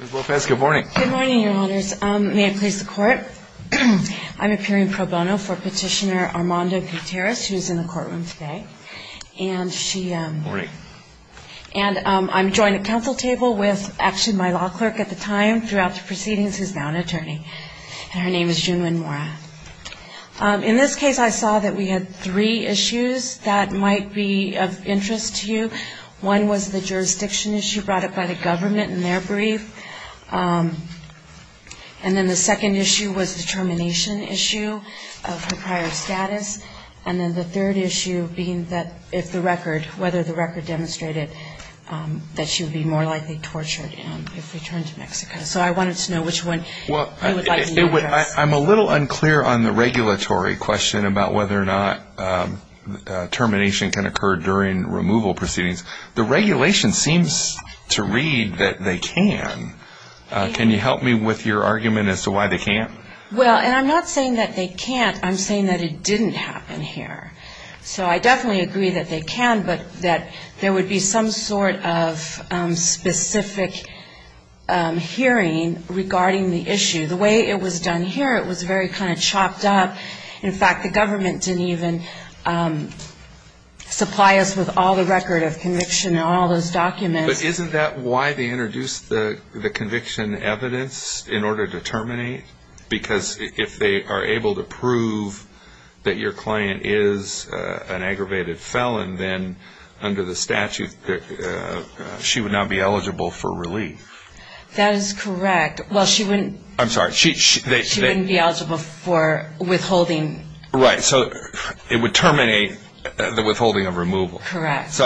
Ms. Bofes, good morning. Good morning, Your Honors. May it please the Court, I'm appearing pro bono for Petitioner Armando Gutierrez, who is in the courtroom today. And I'm joined at council table with, actually, my law clerk at the time throughout the proceedings, who is now an attorney. Her name is June Lynn Mora. In this case, I saw that we had three issues that might be of interest to you. One was the jurisdiction issue brought up by the government in their brief. And then the second issue was the termination issue of her prior status. And then the third issue being that if the record, whether the record demonstrated that she would be more likely tortured if returned to Mexico. So I wanted to know which one you would like to address. I'm a little unclear on the regulatory question about whether or not termination can occur during removal proceedings. The regulation seems to read that they can. Can you help me with your argument as to why they can't? Well, and I'm not saying that they can't. I'm saying that it didn't happen here. So I definitely agree that they can, but that there would be some sort of specific hearing regarding the issue. The way it was done here, it was very kind of chopped up. In fact, the government didn't even supply us with all the record of conviction and all those documents. But isn't that why they introduced the conviction evidence in order to terminate? Because if they are able to prove that your client is an aggravated felon, then under the statute, she would not be eligible for relief. That is correct. Well, she wouldn't be eligible for withholding. Right. So it would terminate the withholding of removal. Correct.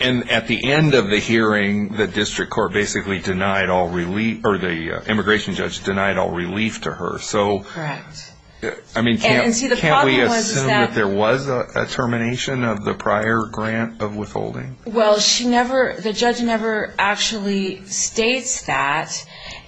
And at the end of the hearing, the district court basically denied all relief, or the immigration judge denied all relief to her. Correct. I mean, can't we assume that there was a termination of the prior grant of withholding? Well, she never, the judge never actually states that.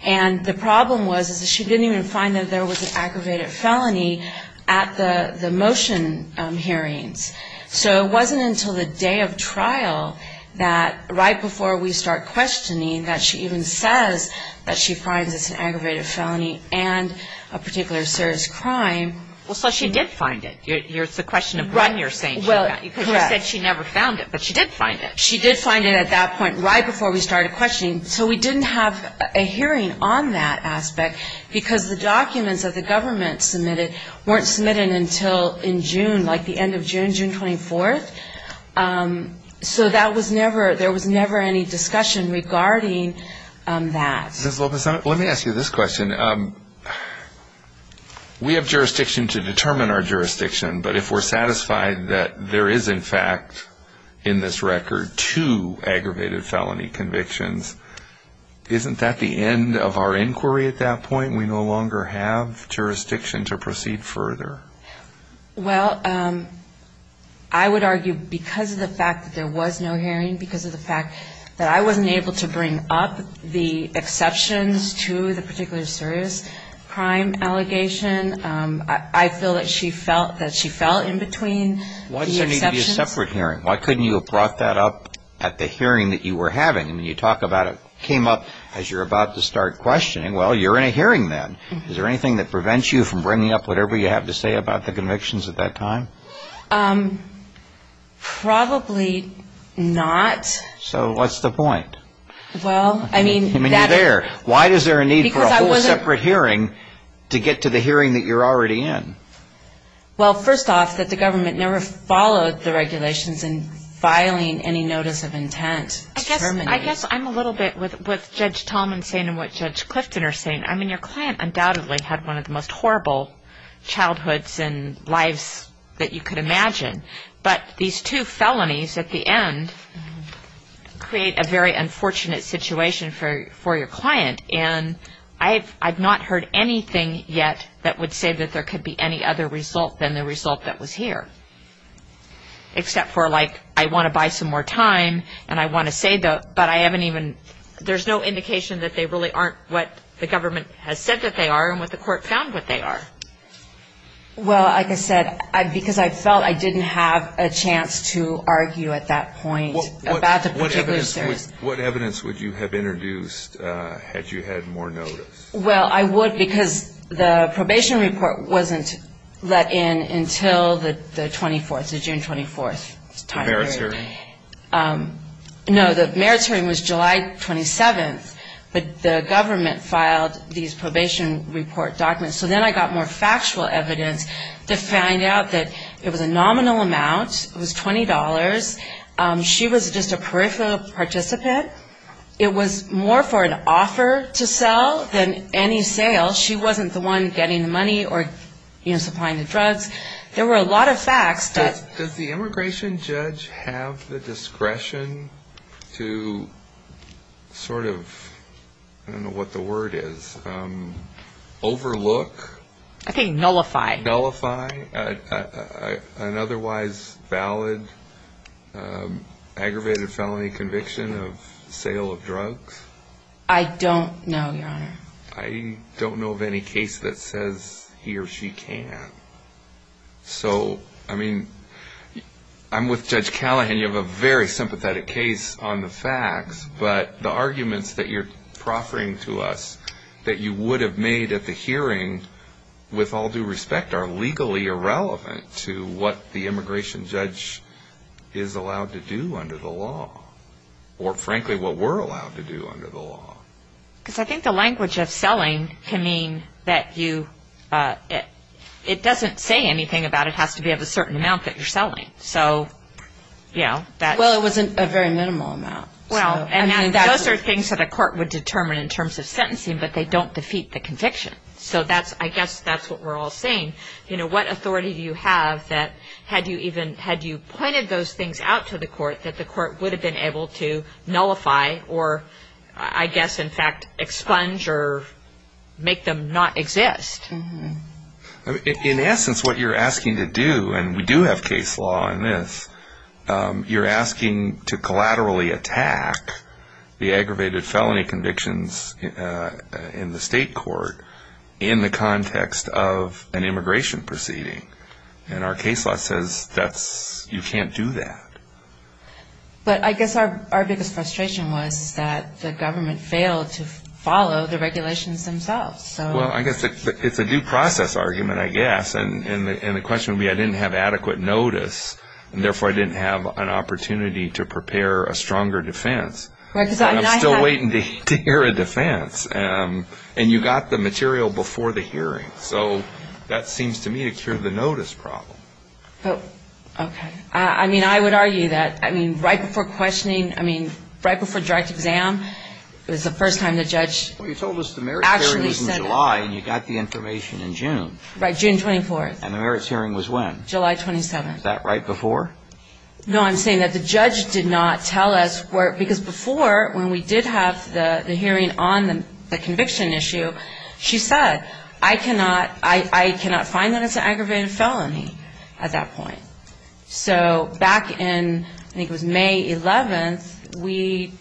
And the problem was that she didn't even find that there was an aggravated felony at the motion hearings. So it wasn't until the day of trial that, right before we start questioning, that she even says that she finds it's an aggravated felony and a particular serious crime. Well, so she did find it. It's a question of when you're saying she found it. Because you said she never found it, but she did find it. She did find it at that point, right before we started questioning. So we didn't have a hearing on that aspect because the documents that the government submitted weren't submitted until in June, like the end of June, June 24th. So that was never, there was never any discussion regarding that. Ms. Lopez, let me ask you this question. We have jurisdiction to determine our jurisdiction, but if we're satisfied that there is, in fact, in this record, two aggravated felony convictions, isn't that the end of our inquiry at that point? We no longer have jurisdiction to proceed further? Well, I would argue because of the fact that there was no hearing, because of the fact that I wasn't able to bring up the exceptions to the particular serious crime allegation. I feel that she felt that she fell in between the exceptions. Why didn't there need to be a separate hearing? Why couldn't you have brought that up at the hearing that you were having? I mean, you talk about it came up as you're about to start questioning. Well, you're in a hearing then. Is there anything that prevents you from bringing up whatever you have to say about the convictions at that time? Probably not. So what's the point? Well, I mean that... I mean, you're there. Why is there a need for a whole separate hearing to get to the hearing that you're already in? Well, first off, that the government never followed the regulations in filing any notice of intent to terminate. I guess I'm a little bit with Judge Tallman saying and what Judge Clifton are saying. I mean, your client undoubtedly had one of the most horrible childhoods and lives that you could imagine, but these two felonies at the end create a very unfortunate situation for your client, and I've not heard anything yet that would say that there could be any other result than the result that was here, except for like I want to buy some more time and I want to save the... There's no indication that they really aren't what the government has said that they are and what the court found what they are. Well, like I said, because I felt I didn't have a chance to argue at that point about the particular... What evidence would you have introduced had you had more notice? Well, I would because the probation report wasn't let in until the 24th, the June 24th time period. The merits hearing? No, the merits hearing was July 27th, but the government filed these probation report documents, so then I got more factual evidence to find out that it was a nominal amount. It was $20. She was just a peripheral participant. It was more for an offer to sell than any sale. She wasn't the one getting the money or, you know, supplying the drugs. There were a lot of facts that... Do you have the discretion to sort of, I don't know what the word is, overlook? I think nullify. Nullify an otherwise valid aggravated felony conviction of sale of drugs? I don't know, Your Honor. I don't know of any case that says he or she can. So, I mean, I'm with Judge Callahan. You have a very sympathetic case on the facts, but the arguments that you're proffering to us that you would have made at the hearing with all due respect are legally irrelevant to what the immigration judge is allowed to do under the law or, frankly, what we're allowed to do under the law. Because I think the language of selling can mean that you... It doesn't say anything about it has to be of a certain amount that you're selling. So, you know, that... Well, it was a very minimal amount. Well, and those are things that a court would determine in terms of sentencing, but they don't defeat the conviction. So I guess that's what we're all saying. You know, what authority do you have that had you pointed those things out to the court, that the court would have been able to nullify or, I guess, in fact, expunge or make them not exist? In essence, what you're asking to do, and we do have case law in this, you're asking to collaterally attack the aggravated felony convictions in the state court in the context of an immigration proceeding. And our case law says you can't do that. But I guess our biggest frustration was that the government failed to follow the regulations themselves. Well, I guess it's a due process argument, I guess, and the question would be I didn't have adequate notice, and therefore I didn't have an opportunity to prepare a stronger defense. And I'm still waiting to hear a defense. And you got the material before the hearing. So that seems to me to cure the notice problem. Okay. I mean, I would argue that, I mean, right before questioning, I mean, right before direct exam was the first time the judge actually said it. Well, you told us the merits hearing was in July, and you got the information in June. Right, June 24th. And the merits hearing was when? July 27th. Is that right before? No, I'm saying that the judge did not tell us where, because before when we did have the hearing on the conviction issue, she said, I cannot find that it's an aggravated felony at that point. So back in, I think it was May 11th, we,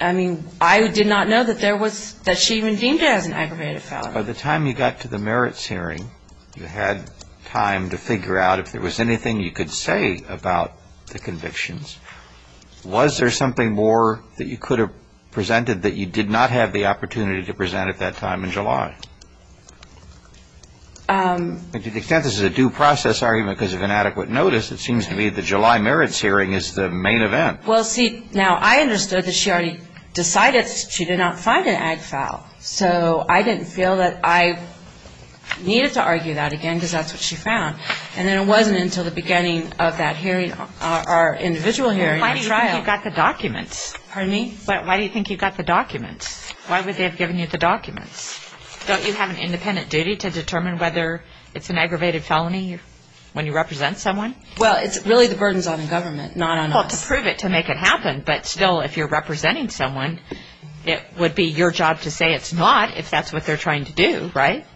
I mean, I did not know that there was, that she even deemed it as an aggravated felony. By the time you got to the merits hearing, you had time to figure out if there was anything you could say about the convictions. Was there something more that you could have presented that you did not have the opportunity to present at that time in July? To the extent this is a due process argument because of inadequate notice, it seems to me that the July merits hearing is the main event. Well, see, now, I understood that she already decided she did not find an ag foul. So I didn't feel that I needed to argue that again because that's what she found. And then it wasn't until the beginning of that hearing, our individual hearing. Why do you think you got the documents? Pardon me? Why do you think you got the documents? Why would they have given you the documents? Don't you have an independent duty to determine whether it's an aggravated felony when you represent someone? Well, it's really the burdens on the government, not on us. Well, to prove it, to make it happen. But still, if you're representing someone, it would be your job to say it's not if that's what they're trying to do, right?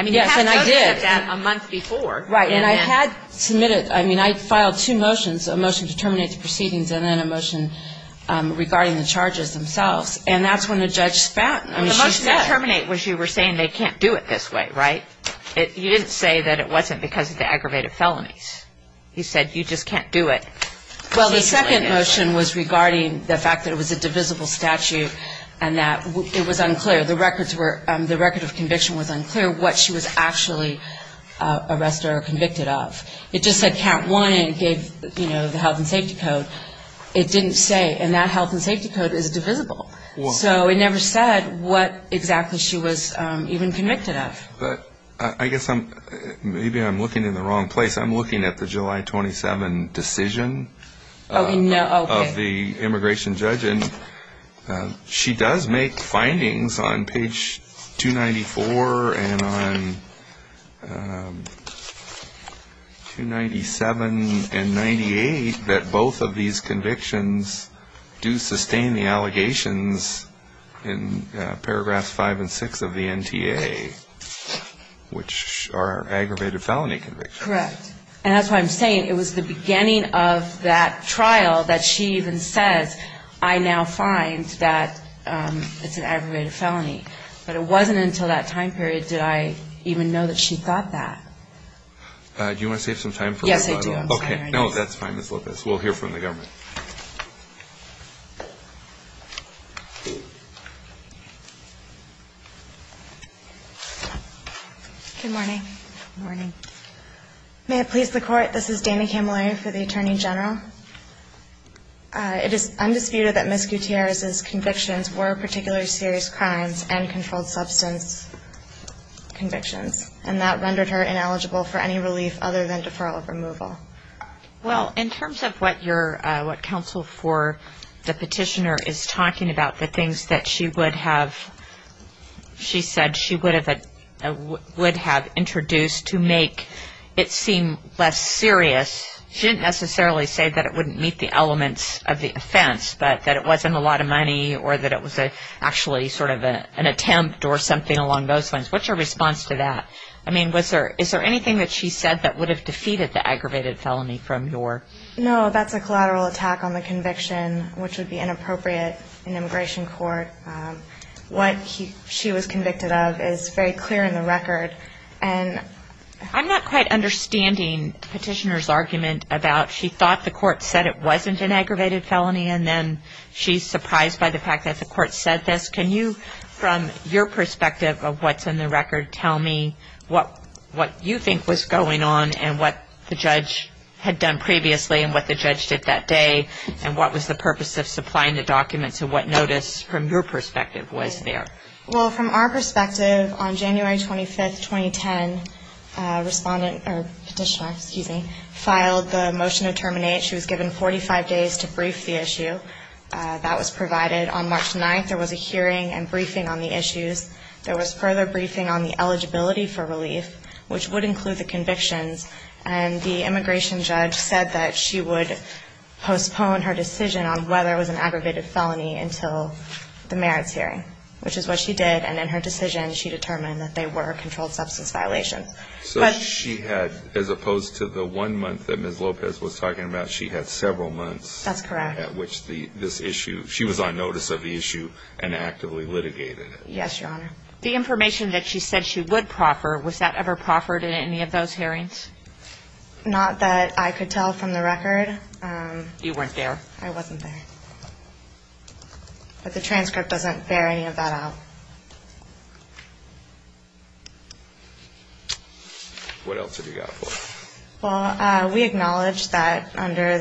Yes, and I did. You had to have noted that a month before. Right, and I had submitted, I mean, I filed two motions, a motion to terminate the proceedings and then a motion regarding the charges themselves. And that's when the judge spat. The motion to terminate was you were saying they can't do it this way, right? You didn't say that it wasn't because of the aggravated felonies. You said you just can't do it. Well, the second motion was regarding the fact that it was a divisible statute and that it was unclear. The records were, the record of conviction was unclear what she was actually arrested or convicted of. It just said count one and gave, you know, the health and safety code. It didn't say, and that health and safety code is divisible. So it never said what exactly she was even convicted of. But I guess maybe I'm looking in the wrong place. I'm looking at the July 27 decision of the immigration judge. And she does make findings on page 294 and on 297 and 98 that both of these convictions do sustain the allegations in paragraphs 5 and 6 of the NTA, which are aggravated felony convictions. Correct. And that's why I'm saying it was the beginning of that trial that she even says, I now find that it's an aggravated felony. But it wasn't until that time period did I even know that she thought that. Do you want to save some time? Yes, I do. Okay. No, that's fine, Ms. Lopez. We'll hear from the government. Good morning. Morning. May it please the Court, this is Dana Camilleri for the Attorney General. It is undisputed that Ms. Gutierrez's convictions were particularly serious crimes and controlled substance convictions. And that rendered her ineligible for any relief other than deferral of removal. Well, in terms of what counsel for the petitioner is talking about, the things that she said she would have introduced to make it seem less serious, she didn't necessarily say that it wouldn't meet the elements of the offense, but that it wasn't a lot of money or that it was actually sort of an attempt or something along those lines. What's your response to that? I mean, is there anything that she said that would have defeated the aggravated felony from your? No, that's a collateral attack on the conviction, which would be inappropriate in immigration court. What she was convicted of is very clear in the record. I'm not quite understanding the petitioner's argument about she thought the court said it wasn't an aggravated felony and then she's surprised by the fact that the court said this. Can you, from your perspective of what's in the record, tell me what you think was going on and what the judge had done previously and what the judge did that day and what was the purpose of supplying the documents and what notice from your perspective was there? Well, from our perspective, on January 25, 2010, petitioner filed the motion to terminate. She was given 45 days to brief the issue. That was provided. On March 9, there was a hearing and briefing on the issues. There was further briefing on the eligibility for relief, which would include the convictions. And the immigration judge said that she would postpone her decision on whether it was an aggravated felony until the merits hearing, which is what she did. And in her decision, she determined that they were controlled substance violations. So she had, as opposed to the one month that Ms. Lopez was talking about, she had several months. That's correct. At which this issue, she was on notice of the issue and actively litigated it. Yes, Your Honor. The information that she said she would proffer, was that ever proffered in any of those hearings? Not that I could tell from the record. You weren't there? I wasn't there. But the transcript doesn't bear any of that out. What else have you got for us? Well, we acknowledge that under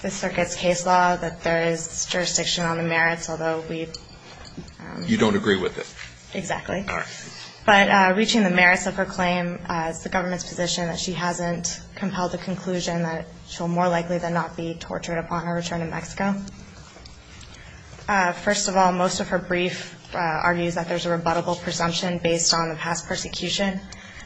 the circuit's case law that there is jurisdiction on the merits, although we've You don't agree with it? Exactly. All right. But reaching the merits of her claim is the government's position that she hasn't compelled the conclusion that she'll more likely than not be tortured upon her return to Mexico. First of all, most of her brief argues that there's a rebuttable presumption based on the past persecution,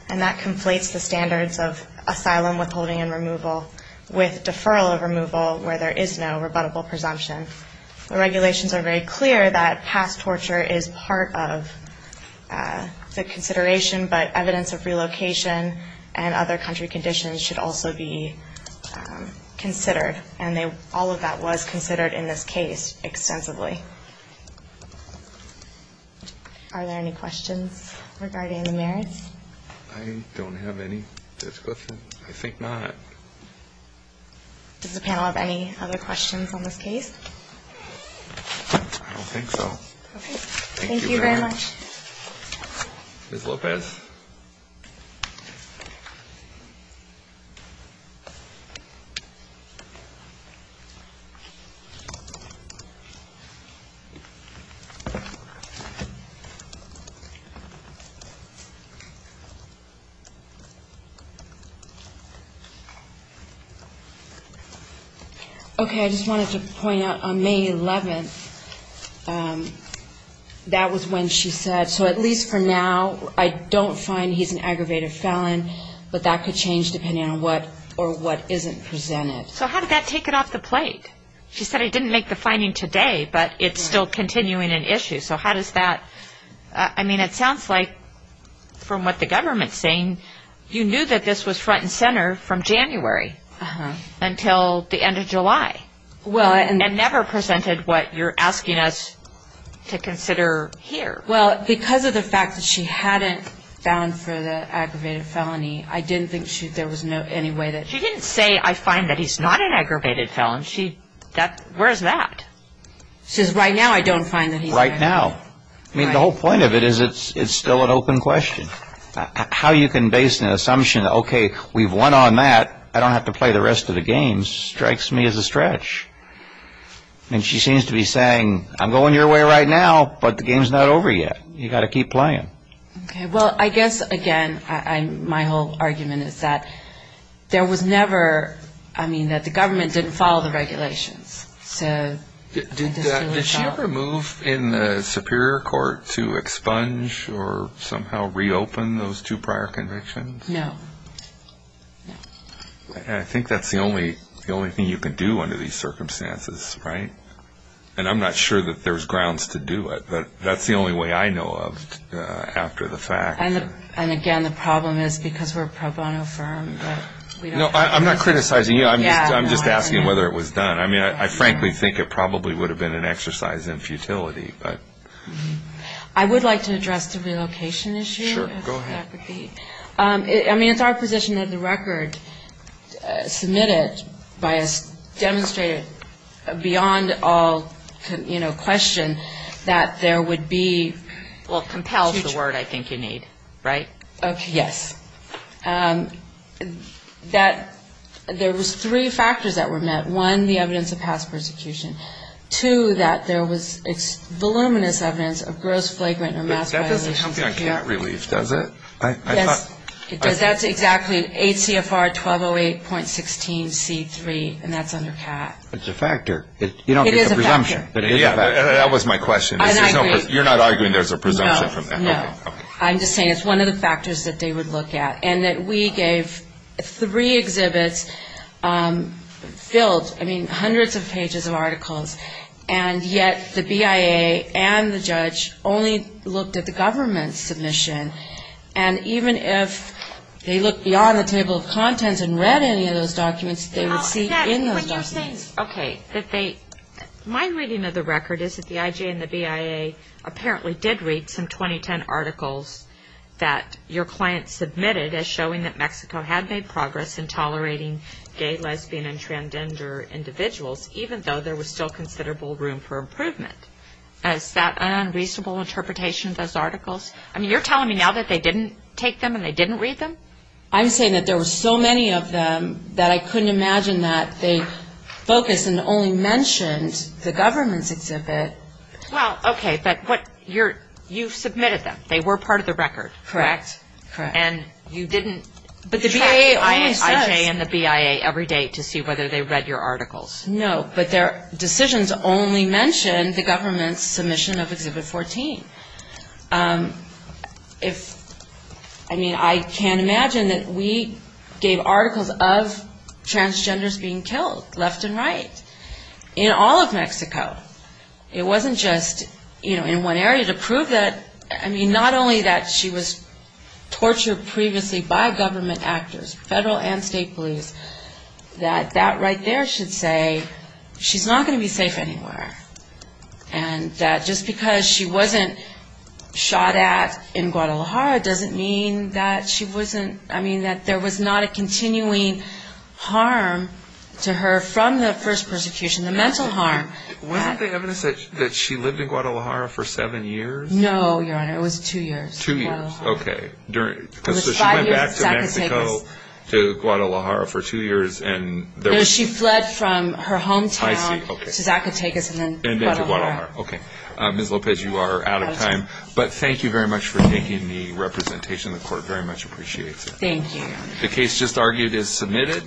and that conflates the standards of asylum, withholding, and removal with deferral of removal, where there is no rebuttable presumption. The regulations are very clear that past torture is part of the consideration, but evidence of relocation and other country conditions should also be considered, and all of that was considered in this case extensively. Are there any questions regarding the merits? I don't have any. I think not. Does the panel have any other questions on this case? I don't think so. Thank you, ma'am. Ms. Lopez? Okay, I just wanted to point out, on May 11th, that was when she said, so at least for now, I don't find he's an aggravated felon, but that could change depending on what or what isn't presented. So how did that take it off the plate? She said, I didn't make the finding today, but if I did, it's still continuing an issue. So how does that – I mean, it sounds like, from what the government's saying, you knew that this was front and center from January until the end of July and never presented what you're asking us to consider here. Well, because of the fact that she hadn't found for the aggravated felony, I didn't think there was any way that – She didn't say, I find that he's not an aggravated felon. Where's that? She says, right now, I don't find that he's an aggravated felon. Right now. I mean, the whole point of it is it's still an open question. How you can base an assumption, okay, we've won on that, I don't have to play the rest of the games, strikes me as a stretch. I mean, she seems to be saying, I'm going your way right now, but the game's not over yet. You've got to keep playing. Okay, well, I guess, again, my whole argument is that there was never – I mean, that the government didn't follow the regulations. Did she ever move in the Superior Court to expunge or somehow reopen those two prior convictions? No. I think that's the only thing you can do under these circumstances, right? And I'm not sure that there's grounds to do it, but that's the only way I know of after the fact. And, again, the problem is because we're a pro bono firm. No, I'm not criticizing you. I'm just asking whether it was done. I mean, I frankly think it probably would have been an exercise in futility. I would like to address the relocation issue. Sure, go ahead. I mean, it's our position that the record submitted by us demonstrated beyond all question that there would be – Well, compelled is the word I think you need, right? Yes. That there was three factors that were met. One, the evidence of past persecution. Two, that there was voluminous evidence of gross flagrant or mass violations. But that doesn't count on cat relief, does it? Yes. That's exactly 8 CFR 1208.16 C3, and that's under cat. It's a factor. It is a factor. You don't get the presumption, but it is a factor. That was my question. I agree. You're not arguing there's a presumption from that? No. Okay. I'm just saying it's one of the factors that they would look at. And that we gave three exhibits filled, I mean, hundreds of pages of articles, and yet the BIA and the judge only looked at the government's submission. And even if they looked beyond the table of contents and read any of those documents, they would see in those documents. Okay. My reading of the record is that the IJ and the BIA apparently did read some 2010 articles that your client submitted as showing that Mexico had made progress in tolerating gay, lesbian, and transgender individuals, even though there was still considerable room for improvement. Is that an unreasonable interpretation of those articles? I mean, you're telling me now that they didn't take them and they didn't read them? I'm saying that there were so many of them that I couldn't imagine that they focused and only mentioned the government's exhibit. Well, okay, but you submitted them. They were part of the record, correct? Correct. And you didn't track the IJ and the BIA every day to see whether they read your articles. No, but their decisions only mentioned the government's submission of Exhibit 14. I mean, I can't imagine that we gave articles of transgenders being killed, left and right, in all of Mexico. It wasn't just in one area to prove that. I mean, not only that she was tortured previously by government actors, federal and state police, that that right there should say she's not going to be safe anywhere. And that just because she wasn't shot at in Guadalajara doesn't mean that she wasn't, I mean, that there was not a continuing harm to her from the first persecution, the mental harm. Wasn't the evidence that she lived in Guadalajara for seven years? No, Your Honor, it was two years in Guadalajara. It was five years in Zacatecas. So she went back to Mexico, to Guadalajara for two years and there was... And then to Guadalajara. Okay. Ms. Lopez, you are out of time. But thank you very much for taking the representation. The Court very much appreciates it. Thank you. The case just argued is submitted.